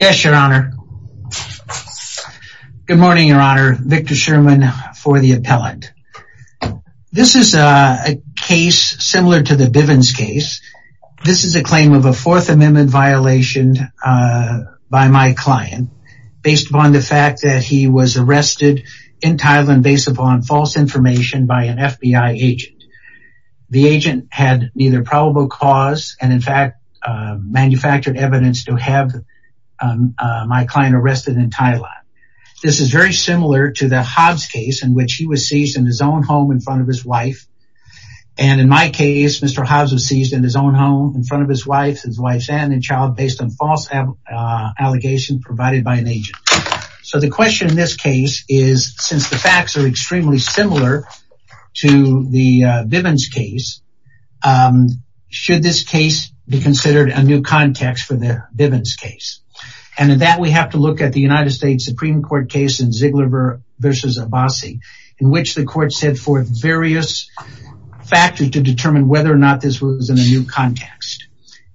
Yes, your honor. Good morning, your honor. Victor Sherman for the appellant. This is a case similar to the Bivens case. This is a claim of a Fourth Amendment violation by my client based upon the fact that he was arrested in Thailand based upon false information by an FBI agent. The agent had neither probable cause and in fact manufactured evidence to have my client arrested in Thailand. This is very similar to the Hobbs case in which he was seized in his own home in front of his wife. And in my case, Mr. Hobbs was seized in his own home in front of his wife and child based on false allegations provided by an agent. So the question in this case is, since the facts are extremely similar to the Bivens case, should this case be considered a new context for the Bivens case? And in that we have to look at the United States Supreme Court case in Ziegler v. Abbasi in which the court set forth various factors to determine whether or not this was in a new context.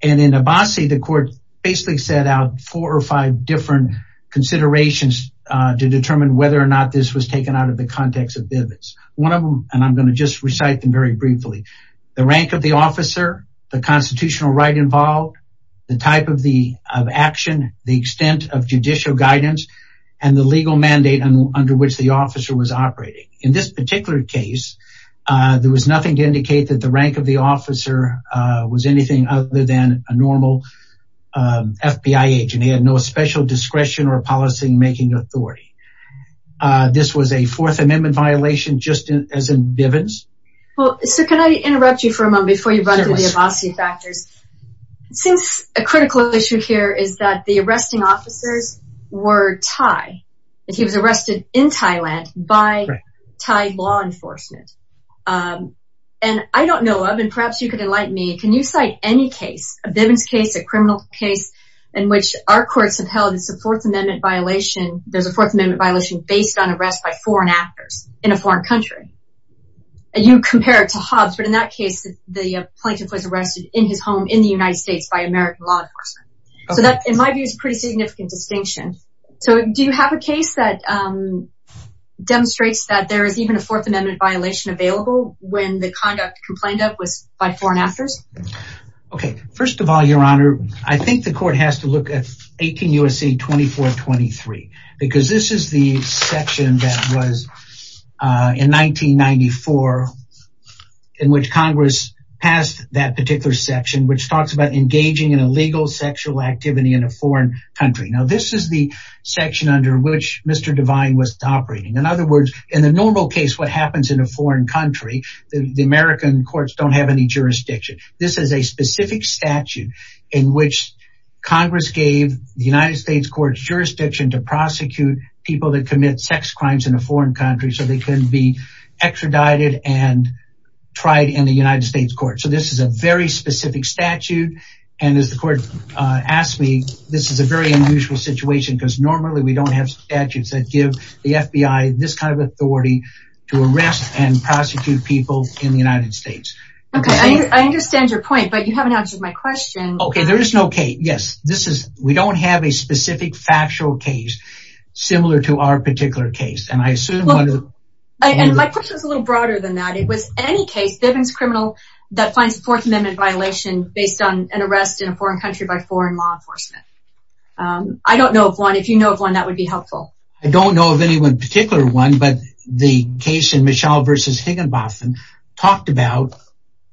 And in Abbasi, the court basically set out four or five different considerations to determine whether or not this was taken out of the context of Bivens. One of them, and I'm going to just briefly, the rank of the officer, the constitutional right involved, the type of action, the extent of judicial guidance, and the legal mandate under which the officer was operating. In this particular case, there was nothing to indicate that the rank of the officer was anything other than a normal FBI agent. He had no special discretion or policymaking authority. This was a Fourth Amendment violation just as in Bivens. Well, sir, can I interrupt you for a moment before you run into the Abbasi factors? Since a critical issue here is that the arresting officers were Thai, that he was arrested in Thailand by Thai law enforcement. And I don't know of, and perhaps you could enlighten me, can you cite any case, a Bivens case, a criminal case, in which our courts have held it's a Fourth Amendment violation, there's a Fourth Amendment violation based on arrest by foreign actors in a foreign country. And you compare it to Hobbs, but in that case, the plaintiff was arrested in his home in the United States by American law enforcement. So that, in my view, is a pretty significant distinction. So do you have a case that demonstrates that there is even a Fourth Amendment violation available when the conduct complained of was by foreign actors? Okay. First of all, Your Honor, I think the court has to look at 18 U.S.C. 2423, because this is the section that was in 1994, in which Congress passed that particular section, which talks about engaging in illegal sexual activity in a foreign country. Now, this is the section under which Mr. Devine was operating. In other words, in the normal case, what happens in a foreign country, the American courts don't have any jurisdiction. This is a specific statute in which Congress gave the United States court's jurisdiction to prosecute people that commit sex crimes in a foreign country, so they can be extradited and tried in the United States court. So this is a very specific statute. And as the court asked me, this is a very unusual situation, because normally we don't have statutes that give the FBI this kind of authority to arrest and prosecute people in the United States. Okay, I understand your point, but you haven't answered my question. Okay, there is no case. Yes, this is, we don't have a specific factual case similar to our particular case, and I assume... And my question is a little broader than that. It was any case, Vivian's criminal, that finds a Fourth Amendment violation based on an arrest in a foreign country by foreign law enforcement. I don't know of one. If you know of one, that would be helpful. I don't know of any one particular one, but the case in Mitchell versus Higginbotham talked about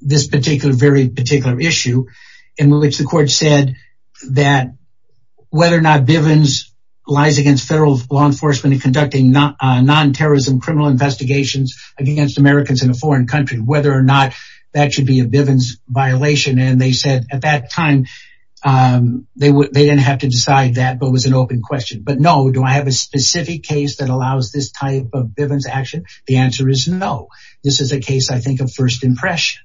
this particular, very particular issue in which the court said that whether or not Vivian's lies against federal law enforcement in conducting non-terrorism criminal investigations against Americans in a foreign country, whether or not that should be a Vivian's violation. And they said at that time, they didn't have to decide that, but it was an open question. But no, do I have a specific case that allows this type of Vivian's action? The answer is no. This is a case, I think, of first impression.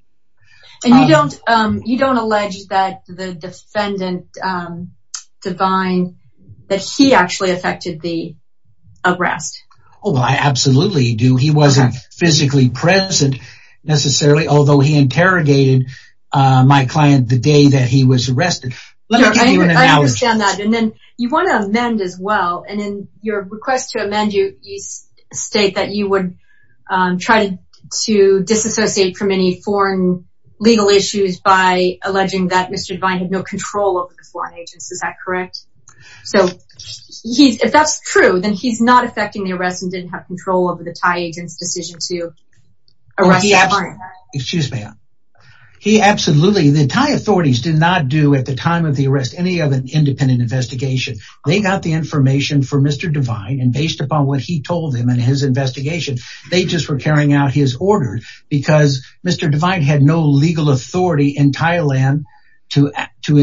And you don't, you don't allege that the defendant, Devine, that he actually affected the arrest. Oh, I absolutely do. He wasn't physically present necessarily, although he interrogated my client the day that he was arrested. I understand that. And then you want to amend as well. And in your request to amend, you state that you would try to disassociate from any foreign legal issues by alleging that Mr. Devine had no control over the foreign agents. Is that correct? So he's, if that's true, then he's not affecting the arrest and didn't have control over the Thai agents' decision to arrest that client. Excuse me. He absolutely, the Thai authorities did not do at the time of the arrest, any of an independent investigation. They got the information for Mr. Devine and based upon what he told them in his investigation, they just were carrying out his order because Mr. Devine had no legal authority in Thailand to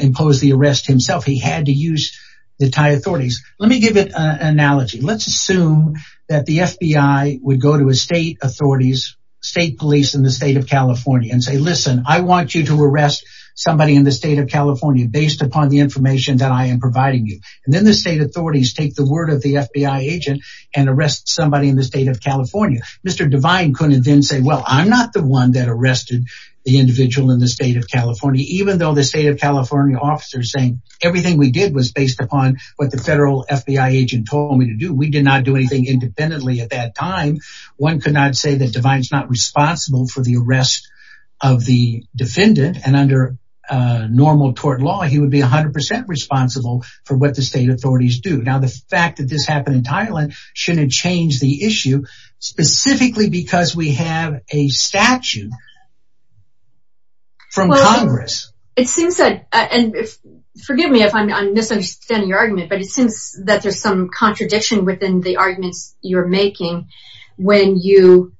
impose the arrest himself. He had to use the Thai authorities. Let me give an analogy. Let's assume that the FBI would go to a state authorities, state police in the state of California and say, listen, I want you to arrest somebody in the state of California based upon the information that I am providing you. And then the state authorities take the word of the FBI agent and arrest somebody in the state of California. Mr. Devine couldn't then say, well, I'm not the one that arrested the individual in the state of California, even though the state officers saying everything we did was based upon what the federal FBI agent told me to do. We did not do anything independently at that time. One could not say that Devine's not responsible for the arrest of the defendant. And under normal court law, he would be 100 percent responsible for what the state authorities do. Now, the fact that this happened in Thailand shouldn't change the issue specifically because we have a statute from Congress. It seems that, and forgive me if I'm misunderstanding your argument, but it seems that there's some contradiction within the arguments you're making when you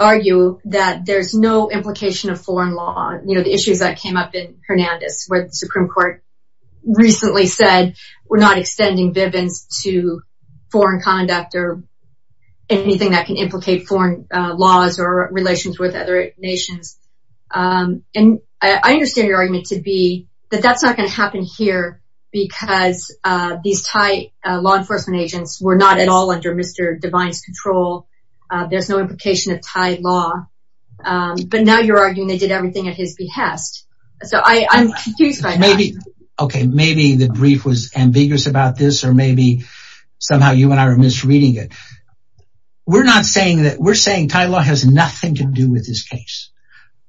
argue that there's no implication of foreign law. You know, the issues that came up in Hernandez where the Supreme Court recently said we're not extending Bivens to foreign conduct or anything that can implicate foreign laws or relations with other nations. And I understand your argument to be that that's not going to happen here because these Thai law enforcement agents were not at all under Mr. Devine's control. There's no implication of Thai law. But now you're arguing they did everything at his behest. So I'm confused by that. Maybe, okay, maybe the brief was we're not saying that we're saying Thai law has nothing to do with this case.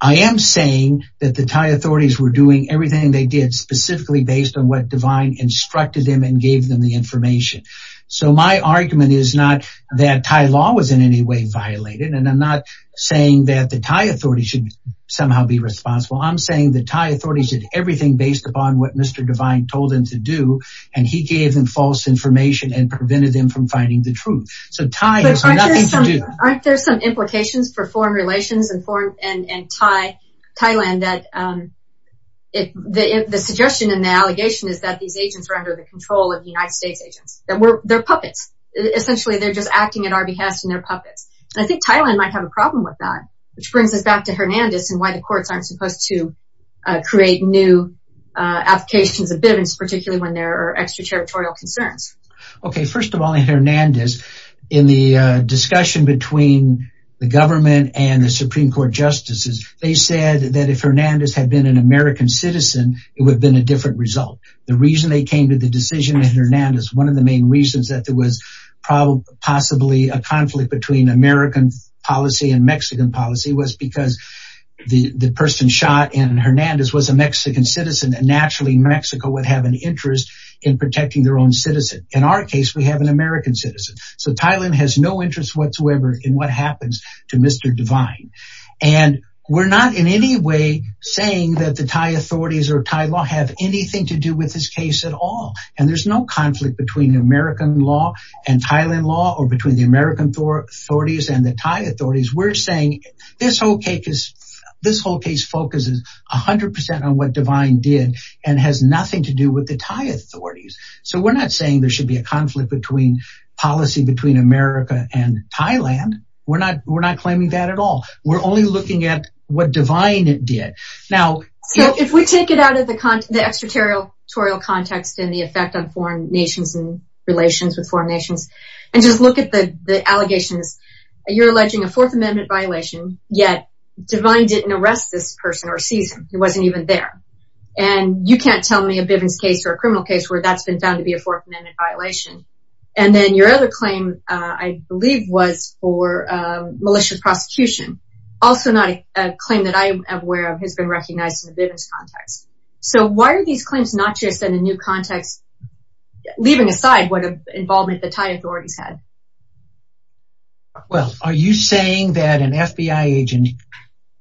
I am saying that the Thai authorities were doing everything they did specifically based on what Devine instructed them and gave them the information. So my argument is not that Thai law was in any way violated. And I'm not saying that the Thai authorities should somehow be responsible. I'm saying the Thai authorities did everything based upon what Mr. Devine told them to do. And he gave them false information and prevented them from finding the truth. So Thai has nothing to do. Aren't there some implications for foreign relations and Thailand that the suggestion in the allegation is that these agents are under the control of the United States agents. They're puppets. Essentially, they're just acting at our behest and they're puppets. And I think Thailand might have a problem with that, which brings us back to Hernandez and why the courts aren't supposed to create new applications of Bivens, particularly when there are extraterritorial concerns. Okay, first of all, in Hernandez, in the discussion between the government and the Supreme Court justices, they said that if Hernandez had been an American citizen, it would have been a different result. The reason they came to the decision in Hernandez, one of the main reasons that there was possibly a conflict between American policy and Mexican policy was because the person shot in Hernandez was a Mexican citizen and naturally Mexico would have an interest in protecting their own citizen. In our case, we have an American citizen. So Thailand has no interest whatsoever in what happens to Mr. Divine. And we're not in any way saying that the Thai authorities or Thai law have anything to do with this case at all. And there's no conflict between American law and Thailand law or between the American authorities and the Thai authorities. We're saying this whole case focuses 100% on what Divine did and has nothing to do with the Thai authorities. So we're not saying there should be conflict between policy between America and Thailand. We're not claiming that at all. We're only looking at what Divine did. So if we take it out of the extraterritorial context and the effect on foreign nations and relations with foreign nations, and just look at the allegations, you're alleging a Fourth Amendment violation, yet Divine didn't arrest this person or seize him, he wasn't even there. And you can't tell me a Bivens case or a criminal case where that's been found to be a Fourth Amendment violation. And then your other claim, I believe was for malicious prosecution, also not a claim that I am aware of has been recognized in the Bivens context. So why are these claims not just in a new context, leaving aside what involvement the Thai authorities had? Well, are you saying that an FBI agent,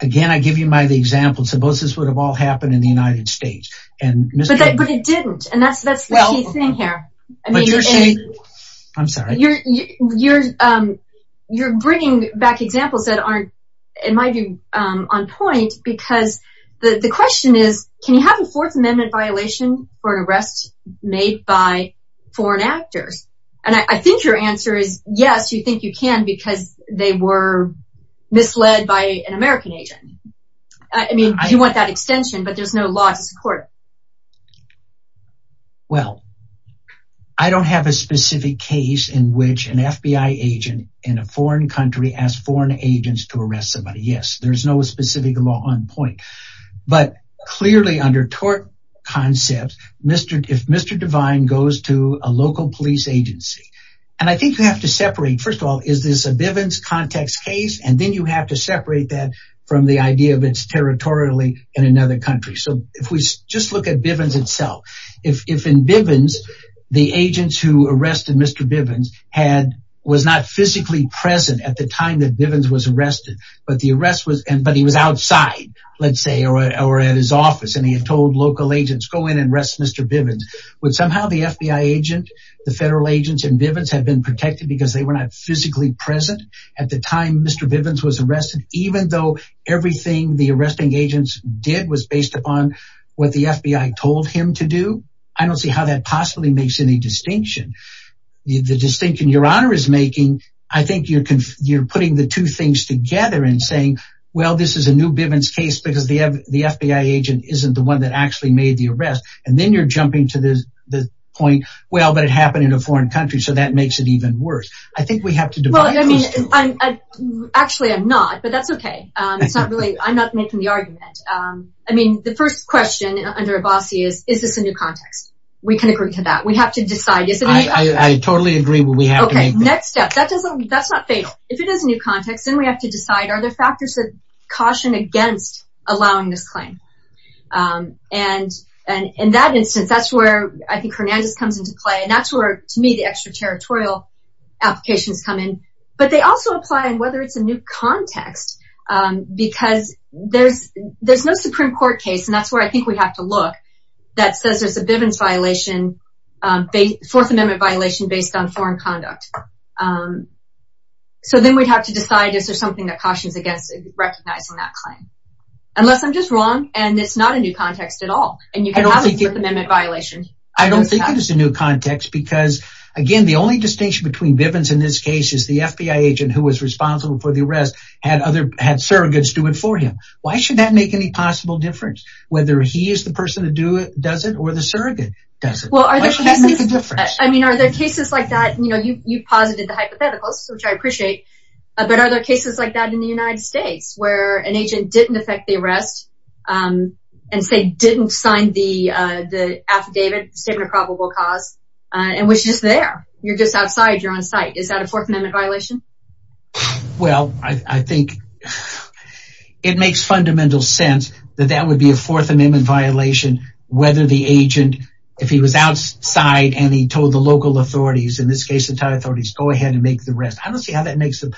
again, I give you my example, would have all happened in the United States? But it didn't. And that's the key thing here. You're bringing back examples that might be on point, because the question is, can you have a Fourth Amendment violation for an arrest made by foreign actors? And I think your misled by an American agent. I mean, you want that extension, but there's no law to support. Well, I don't have a specific case in which an FBI agent in a foreign country asked foreign agents to arrest somebody. Yes, there's no specific law on point. But clearly under tort concepts, if Mr. Divine goes to a local police agency, and I think you have to separate first of all, is this a Bivens context case, and then you have to separate that from the idea of it's territorially in another country. So if we just look at Bivens itself, if in Bivens, the agents who arrested Mr. Bivens was not physically present at the time that Bivens was arrested, but the arrest was and but he was outside, let's say, or at his office, and he had told local agents go in and arrest Mr. Bivens, would somehow the FBI agent, the federal agents in Bivens had been protected because they were not physically present at the time Mr. Bivens was arrested, even though everything the arresting agents did was based upon what the FBI told him to do. I don't see how that possibly makes any distinction. The distinction Your Honor is making, I think you're putting the two things together and saying, well, this is a new Bivens case, because the FBI agent isn't the one that actually made the arrest. And then you're jumping to this point. Well, it happened in a foreign country. So that makes it even worse. I think we have to divide. I mean, I'm actually I'm not, but that's okay. It's not really I'm not making the argument. I mean, the first question under a bossy is, is this a new context? We can agree to that we have to decide. Yes, I totally agree. Well, we have next step that doesn't that's not fatal. If it is a new context, then we have to decide are there factors of caution against allowing this claim? And, and in that instance, that's where I think Hernandez comes into play. And that's where to me, the extraterritorial applications come in. But they also apply and whether it's a new context, because there's, there's no Supreme Court case. And that's where I think we have to look that says there's a Bivens violation, the Fourth Amendment violation based on foreign conduct. So then we'd have to decide if there's something that cautions against recognizing that claim, unless I'm just wrong. And it's not a new context at all. And you can have a Fifth Amendment violation. I don't think it is a new context. Because, again, the only distinction between Bivens in this case is the FBI agent who was responsible for the arrest had other had surrogates do it for him. Why should that make any possible difference? Whether he is the person to do it, does it or the surrogate does? Well, I mean, are there cases like that? You know, you you posited the hypotheticals, which I appreciate. But are there cases like that in the United States where an agent didn't affect the arrest? And say didn't sign the the affidavit statement of probable cause? And was just there? You're just outside your own site? Is that a Fourth Amendment violation? Well, I think it makes fundamental sense that that would be a Fourth Amendment violation, whether the agent, if he was outside, and he told the local authorities, in this case, the Thai authorities, go ahead and make the arrest. I don't see how that makes them.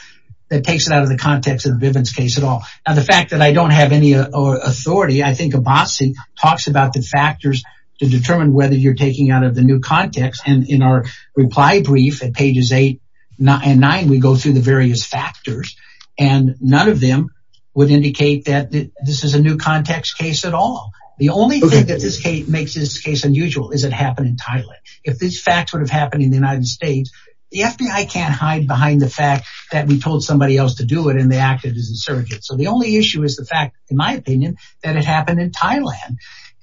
That the fact that I don't have any authority, I think a bossy talks about the factors to determine whether you're taking out of the new context. And in our reply brief at pages eight, not nine, we go through the various factors. And none of them would indicate that this is a new context case at all. The only thing that this case makes this case unusual is it happened in Thailand. If this fact would have happened in the United States, the FBI can't hide behind the fact that we told somebody else to do it, and they acted as a surrogate. So the only issue is the fact, in my opinion, that it happened in Thailand.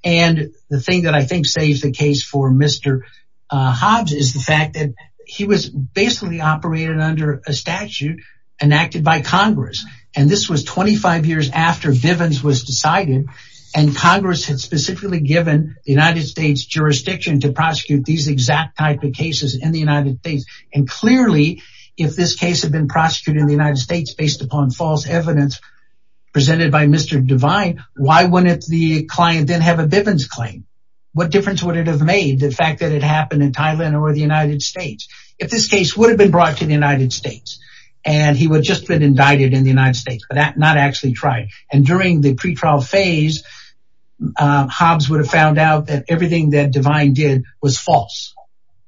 And the thing that I think saves the case for Mr. Hobbs is the fact that he was basically operated under a statute enacted by Congress. And this was 25 years after Vivens was decided. And Congress had specifically given the United States jurisdiction to prosecute these exact type of cases in the United States. And clearly, if this case had been prosecuted in the United States based upon false evidence presented by Mr. Devine, why wouldn't the client then have a Vivens claim? What difference would it have made the fact that it happened in Thailand or the United States? If this case would have been brought to the United States, and he would just been indicted in the United States, but not actually tried. And during the pretrial phase, Hobbs would have found out that everything that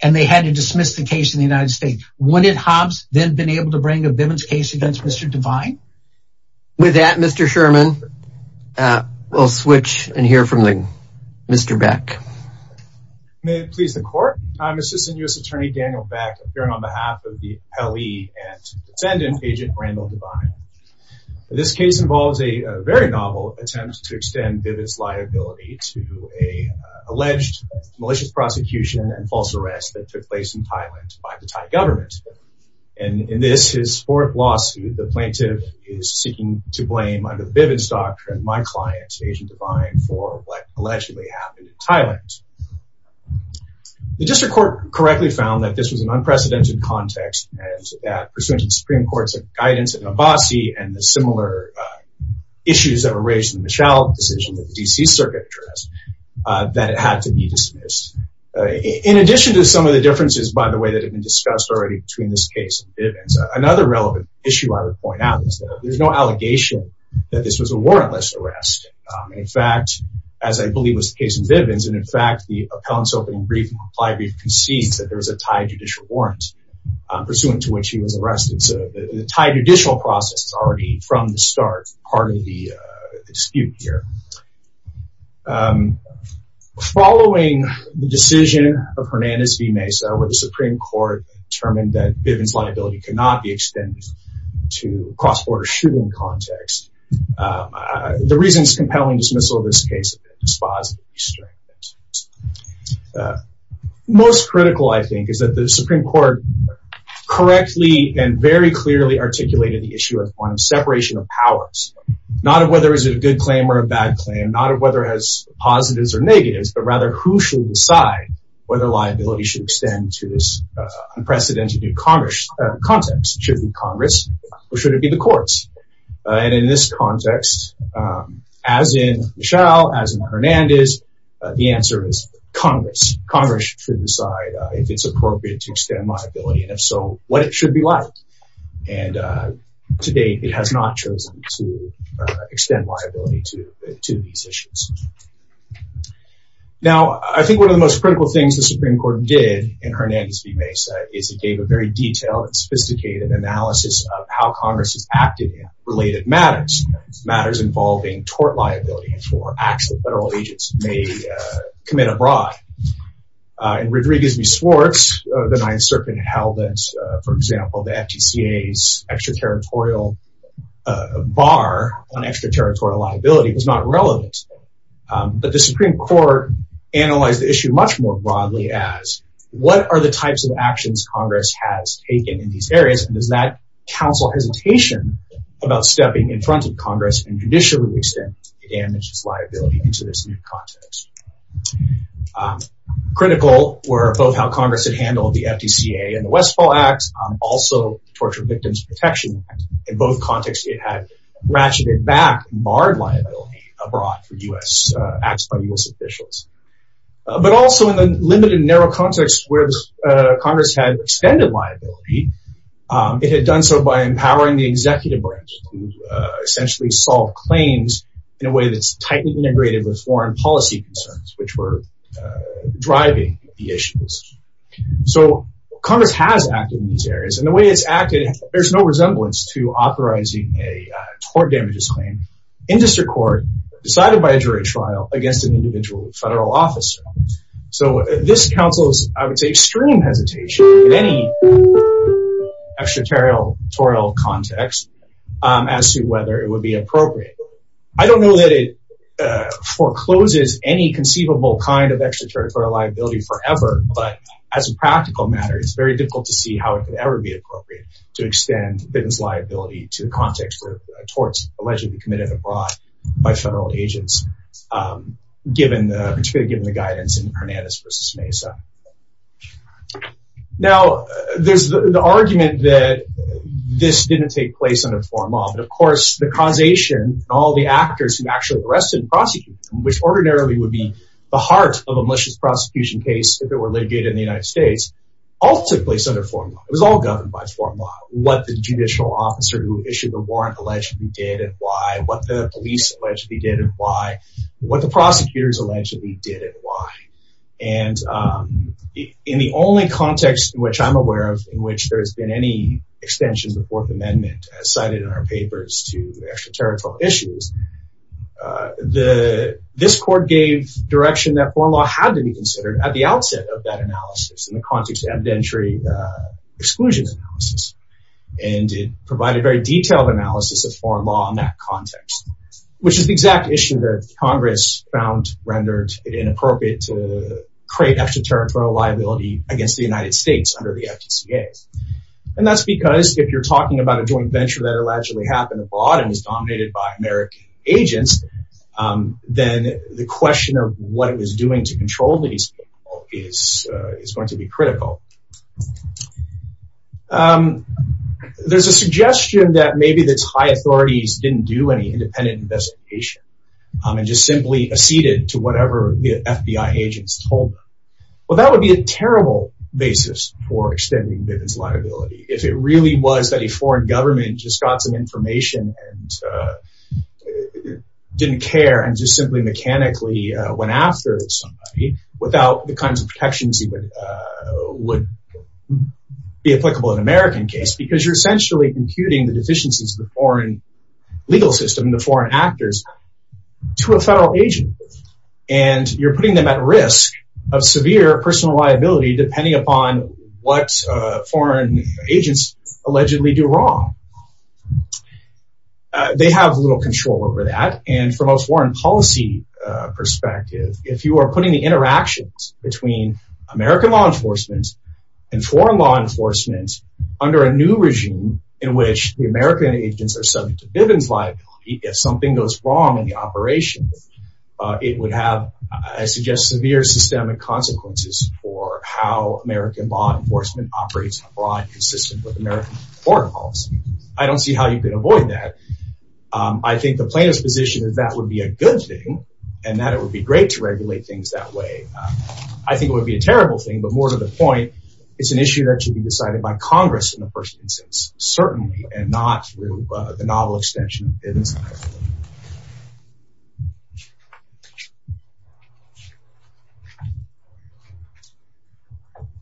And they had to dismiss the case in the United States. Wouldn't Hobbs then been able to bring a Vivens case against Mr. Devine? With that, Mr. Sherman, we'll switch and hear from Mr. Beck. May it please the court. I'm Assistant U.S. Attorney Daniel Beck, appearing on behalf of the L.E. and defendant, Agent Randall Devine. This case involves a very novel attempt to extend Vivens' liability to an alleged malicious prosecution and false arrest that took place in Thailand by the Thai government. And in this, his fourth lawsuit, the plaintiff is seeking to blame under the Vivens doctrine, my client, Agent Devine, for what allegedly happened in Thailand. The district court correctly found that this was an unprecedented context, and that pursuant to the Supreme Court's guidance in Abbasi and the similar issues that were raised in the Michelle decision that the D.C. Circuit addressed, that it had to be dismissed. In addition to some of the differences, by the way, that have been discussed already between this case and Vivens, another relevant issue I would point out is that there's no allegation that this was a warrantless arrest. In fact, as I believe was the case in Vivens, and in fact, the appellant's opening brief and reply brief concedes that there was a Thai judicial warrant pursuant to which he was charged. Following the decision of Hernandez v. Mesa, where the Supreme Court determined that Vivens' liability could not be extended to a cross-border shooting context, the reasons compelling dismissal of this case have been dispositively stringent. Most critical, I think, is that the Supreme Court correctly and very clearly articulated the issue of separation of powers, not of whether it is a good claim or a bad claim, not of whether it has positives or negatives, but rather who should decide whether liability should extend to this unprecedented context. Should it be Congress or should it be the courts? And in this context, as in Michelle, as in Hernandez, the answer is Congress. Congress should decide if it's it has not chosen to extend liability to these issues. Now, I think one of the most critical things the Supreme Court did in Hernandez v. Mesa is it gave a very detailed and sophisticated analysis of how Congress has acted in related matters, matters involving tort liability for acts that federal agents may commit abroad. In a bar on extraterritorial liability was not relevant, but the Supreme Court analyzed the issue much more broadly as what are the types of actions Congress has taken in these areas, and does that counsel hesitation about stepping in front of Congress and judicially extend the damages liability into this new context? Critical were both how Congress had handled the FDCA and the Westfall Acts, also Torture Victims Protection Act. In both contexts, it had ratcheted back barred liability abroad for U.S. acts by U.S. officials. But also in the limited narrow context where Congress had extended liability, it had done so by empowering the executive branch to essentially solve claims in a way that's tightly integrated with foreign policy concerns, which were driving the issues. So Congress has acted in these areas and the way it's acted, there's no resemblance to authorizing a tort damages claim in district court decided by a jury trial against an individual federal officer. So this counsels, I would say, extreme hesitation in any extraterritorial context as to whether it would be appropriate. I don't know that it forecloses any conceivable kind of extraterritorial liability forever, but as a practical matter, it's very difficult to see how it could ever be appropriate to extend business liability to the context of torts allegedly committed abroad by federal agents, particularly given the guidance in Hernandez v. Mesa. Now, there's the argument that this didn't take place under foreign law, but of course, the causation, all the actors who actually arrested and prosecuted them, which ordinarily would be the heart of a malicious prosecution case, if it were litigated in the United States, all took place under foreign law. It was all governed by foreign law. What the judicial officer who issued the warrant allegedly did and why, what the police allegedly did and why, what the prosecutors allegedly did and why. And in the only context in which I'm aware of, in which there has been any extension of the Fourth Amendment as cited in our papers to extraterritorial issues, this court gave direction that foreign law had to be considered at the outset of that analysis in the context of evidentiary exclusion analysis. And it provided very detailed analysis of foreign law in that context, which is the exact issue that Congress found rendered inappropriate to create extraterritorial liability against the United States under the FTCA. And that's because if you're talking about a joint venture that happened abroad and was dominated by American agents, then the question of what it was doing to control these people is going to be critical. There's a suggestion that maybe the Thai authorities didn't do any independent investigation and just simply acceded to whatever the FBI agents told them. Well, that would be a terrible basis for extending Bivens liability. If it really was foreign government just got some information and didn't care and just simply mechanically went after somebody without the kinds of protections that would be applicable in American case, because you're essentially computing the deficiencies of the foreign legal system and the foreign actors to a federal agent. And you're putting them at risk of severe personal liability depending upon what foreign agents allegedly do wrong. They have little control over that. And from a foreign policy perspective, if you are putting the interactions between American law enforcement and foreign law enforcement under a new regime in which the American agents are subject to Bivens liability, if something goes wrong in the consequences for how American law enforcement operates abroad consistent with American foreign policy, I don't see how you can avoid that. I think the plaintiff's position is that would be a good thing and that it would be great to regulate things that way. I think it would be a terrible thing, but more to the point, it's an issue that should be decided by Congress in the future.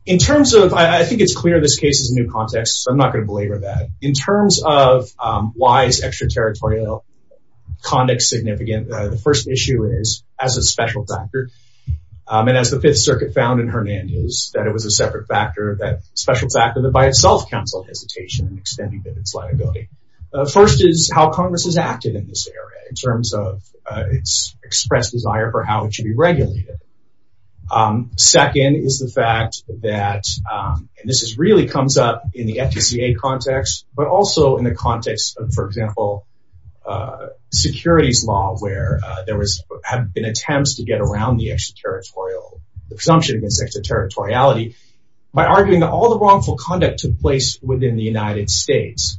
In terms of, I think it's clear this case is a new context, so I'm not going to belabor that. In terms of why is extraterritorial conduct significant, the first issue is as a special factor. And as the Fifth Circuit found in Hernandez, that it was a separate factor, that special factor that by itself counseled hesitation in extending Bivens liability. First is how Congress has acted in this area in terms of its expressed desire for how it should be regulated. Second is the fact that, and this really comes up in the FTCA context, but also in the context of, for example, securities law where there have been attempts to get around the extraterritorial, the presumption against extraterritoriality by arguing that all the wrongful conduct was within the United States.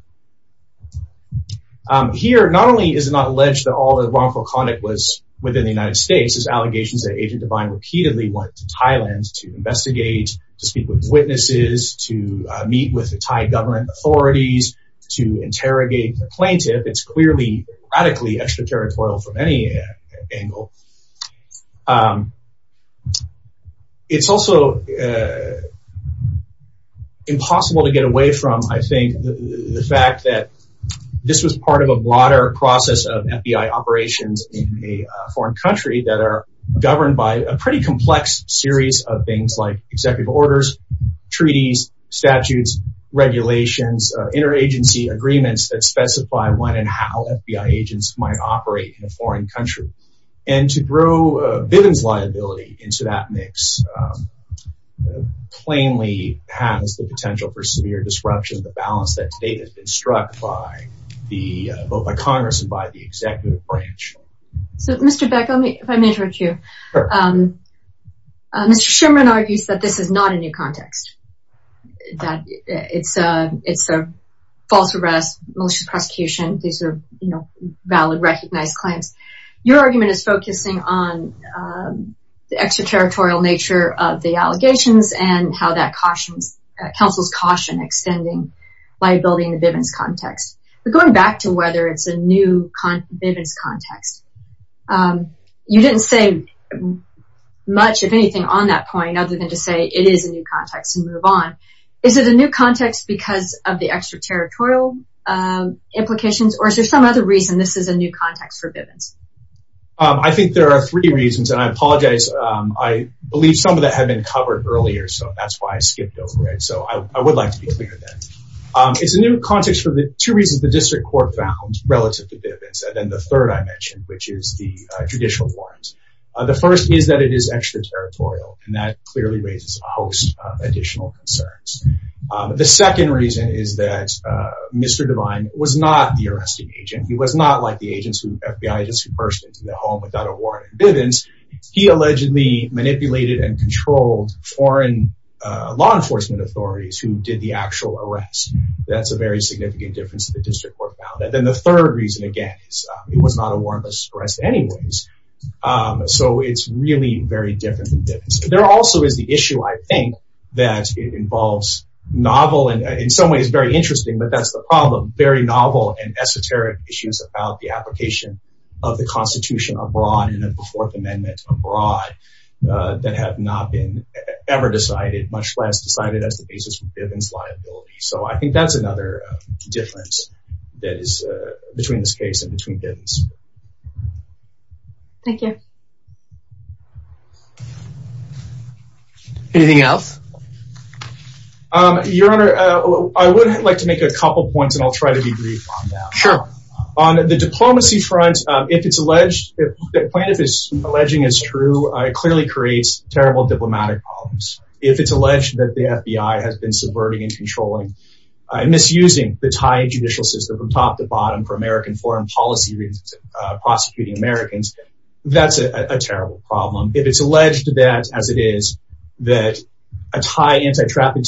There's allegations that Agent Devine repeatedly went to Thailand to investigate, to speak with witnesses, to meet with the Thai government authorities, to interrogate the plaintiff. It's clearly radically extraterritorial from any angle. It's also impossible to get away from, I think, the fact that this was part of a broader process of FBI operations in a foreign country that are governed by a pretty complex series of things like executive orders, treaties, statutes, regulations, interagency agreements that specify when and how FBI agents might operate in a foreign country. And so, to grow Bivens' liability into that mix plainly has the potential for severe disruption of the balance that to date has been struck by both by Congress and by the executive branch. So, Mr. Beck, if I may interrupt you. Mr. Sherman argues that this is not a new context, that it's a false arrest, malicious prosecution. These are valid, recognized claims. Your argument is focusing on the extraterritorial nature of the allegations and how that counsels caution extending liability in the Bivens context. But going back to whether it's a new Bivens context, you didn't say much, if anything, on that point other than to say it is a new context and move on. Is it a new context because of the extraterritorial implications or is there some other reason this is a new context for Bivens? I think there are three reasons and I apologize. I believe some of that had been covered earlier, so that's why I skipped over it. So, I would like to be clear then. It's a new context for the two reasons the district court found relative to Bivens and then the third I mentioned, which is the judicial warrants. The first is that it is extraterritorial and that clearly raises a host of additional concerns. The second reason is that Mr. Devine was not the arresting agent. He was not like the FBI agents who burst into the home without a warrant in Bivens. He allegedly manipulated and controlled foreign law enforcement authorities who did the actual arrest. That's a very significant difference that the district court found. And then the third reason, again, it was not a warrantless arrest anyways. So, it's really very different than Bivens. There also is the issue, I think, that it involves novel and in some ways very interesting, but that's the problem, very novel and esoteric issues about the application of the Constitution abroad and of the Fourth Amendment abroad that have not been ever decided, much less decided as the basis for Bivens liability. So, I think that's another difference that is between this case and between the two. Anything else? Your Honor, I would like to make a couple points and I'll try to be brief on that. Sure. On the diplomacy front, if it's alleged that plaintiff is alleging is true, it clearly creates terrible diplomatic problems. If it's alleged that the FBI has been subverting and controlling and misusing the Thai judicial system from top to bottom for American foreign policy prosecuting Americans, that's a terrible problem. If it's alleged that, as it is, that a Thai anti-trafficking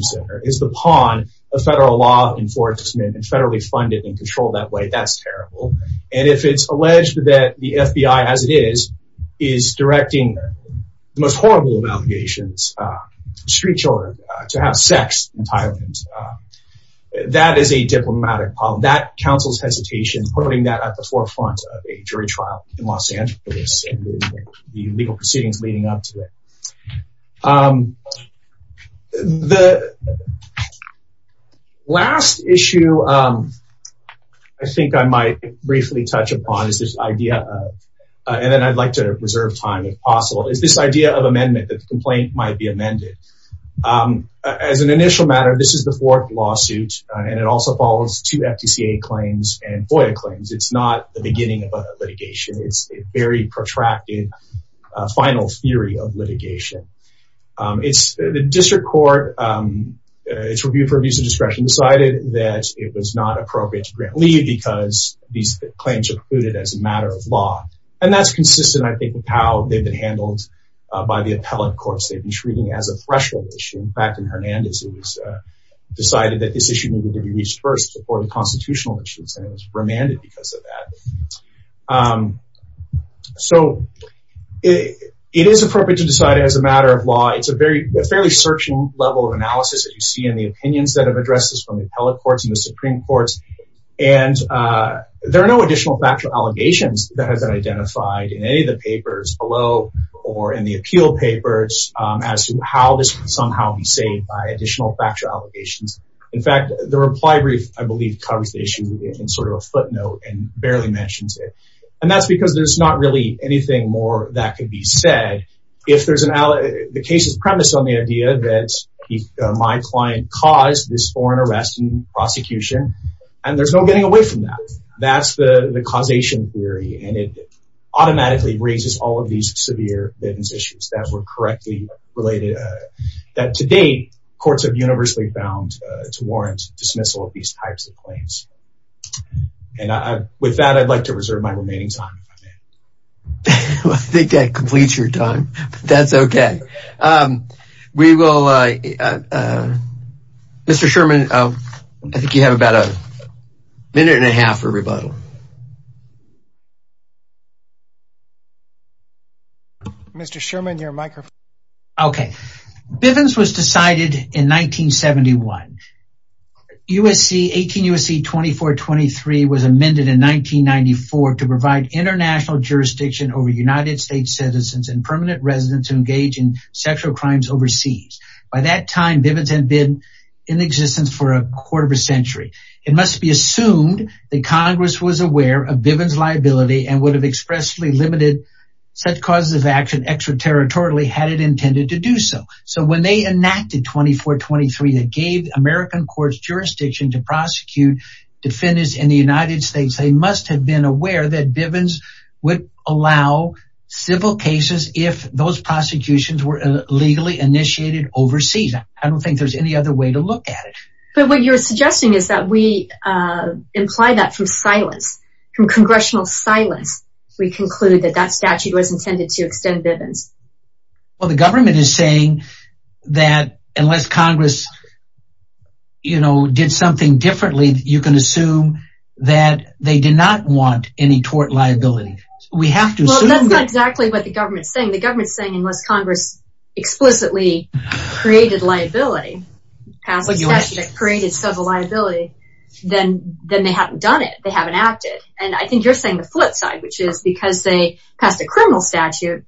center is the pawn of federal law enforcement and federally funded and controlled that way, that's terrible. And if it's alleged that the FBI, as it is, is directing the most horrible of allegations, street children, to have sex in Thailand, that is a diplomatic problem. That counsels hesitation, putting that at the forefront of a jury trial in Los Angeles and the legal proceedings leading up to it. The last issue I think I might briefly touch upon is this idea of, and then I'd like to reserve time if possible, is this idea of amendment that the complaint might be amended. As an initial matter, this is the fourth lawsuit and it also follows two FTCA claims and FOIA claims. It's not the beginning of a litigation. It's a very protracted final theory of litigation. The district court, its review for abuse of discretion decided that it was not appropriate to grant leave because these claims are included as a matter of law. And that's consistent, I think, with how they've been handled by the appellate courts. They've been treating it as a threshold issue. In fact, in Hernandez, it was decided that this issue needed to be reached first before the constitutional issues and it was remanded because of that. So it is appropriate to decide as a matter of law. It's a fairly searching level of analysis that you see in the opinions that have addressed this from the appellate courts and the Supreme Courts. And there are no additional factual allegations that has been identified in any of the papers below or in the appeal papers as to how this can somehow be saved by additional factual allegations. In fact, the reply brief, I believe, covers the issue in sort of a footnote and barely mentions it. And that's because there's not really anything more that could be said. If there's an... the case's premise on the idea that my client caused this foreign arrest and prosecution, and there's no getting away from that. That's the causation theory and it automatically raises all of these severe evidence issues that were correctly related. That to date, courts have universally found to warrant dismissal of these types of claims. And with that, I'd like to reserve my remaining time. Well, I think that completes your time, but that's okay. We will... Mr. Sherman, I think you have about a minute and a half for rebuttal. Mr. Sherman, your microphone. Okay. Bivens was decided in 1971. 18 U.S.C. 2423 was amended in 1994 to provide international jurisdiction over United States citizens and permanent residents who engage in sexual crimes overseas. By that time, Bivens had been in existence for a quarter of a century. It must be assumed that Congress was aware of Bivens liability and would have expressly limited such causes of action extraterritorially had it intended to do so. So when they enacted 2423 that gave American courts jurisdiction to prosecute defendants in the United States, they must have been aware that Bivens would allow civil cases if those prosecutions were illegally initiated overseas. I don't think there's any other way to look at it. But what you're suggesting is that we imply that from silence, from congressional silence, we conclude that that statute was intended to extend Bivens. Well, the government is saying that unless Congress, you know, did something differently, you can assume that they did not want any tort liability. We have to assume that. Well, that's not exactly what the government's saying. The government's saying unless Congress explicitly created liability, created civil liability, then they haven't done it. They haven't acted. And I think you're saying the flip side, which is because they passed a criminal statute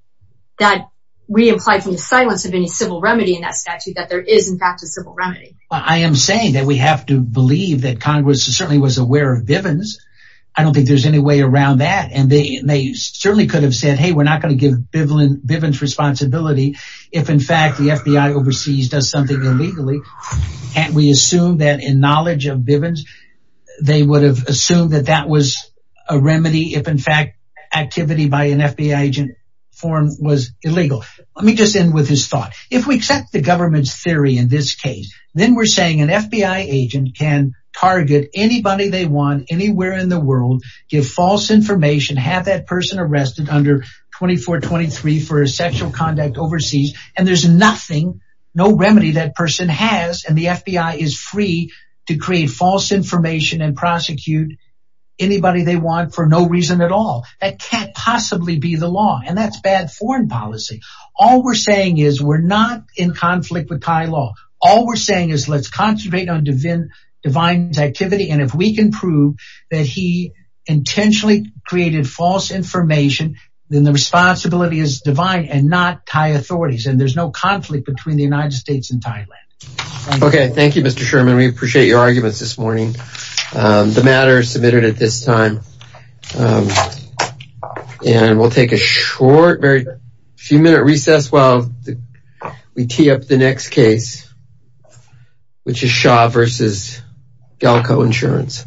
that we implied from the silence of any civil remedy in that statute that there is in fact a civil remedy. I am saying that we have to believe that Congress certainly was aware of Bivens. I don't think there's any way around that. And they certainly could have said, hey, we're not going to give Bivens responsibility if, in fact, the FBI overseas does something illegally. And we assume that in knowledge of Bivens, they would have assumed that that was a remedy if, in fact, activity by an FBI agent form was illegal. Let me just end with this thought. If we accept the government's theory in this case, then we're saying an FBI agent can target anybody they want anywhere in the world, give false information, have that person arrested under 2423 for sexual conduct overseas. And there's nothing, no remedy that person has. And the FBI is free to create false information and prosecute anybody they want for no reason at all. That can't possibly be the law. And that's bad with Thai law. All we're saying is let's concentrate on divine activity. And if we can prove that he intentionally created false information, then the responsibility is divine and not Thai authorities. And there's no conflict between the United States and Thailand. Okay. Thank you, Mr. Sherman. We appreciate your arguments this morning. The matter is submitted at this time. And we'll take a short, very few minute recess while we tee up the next case, which is Shah versus Galco Insurance.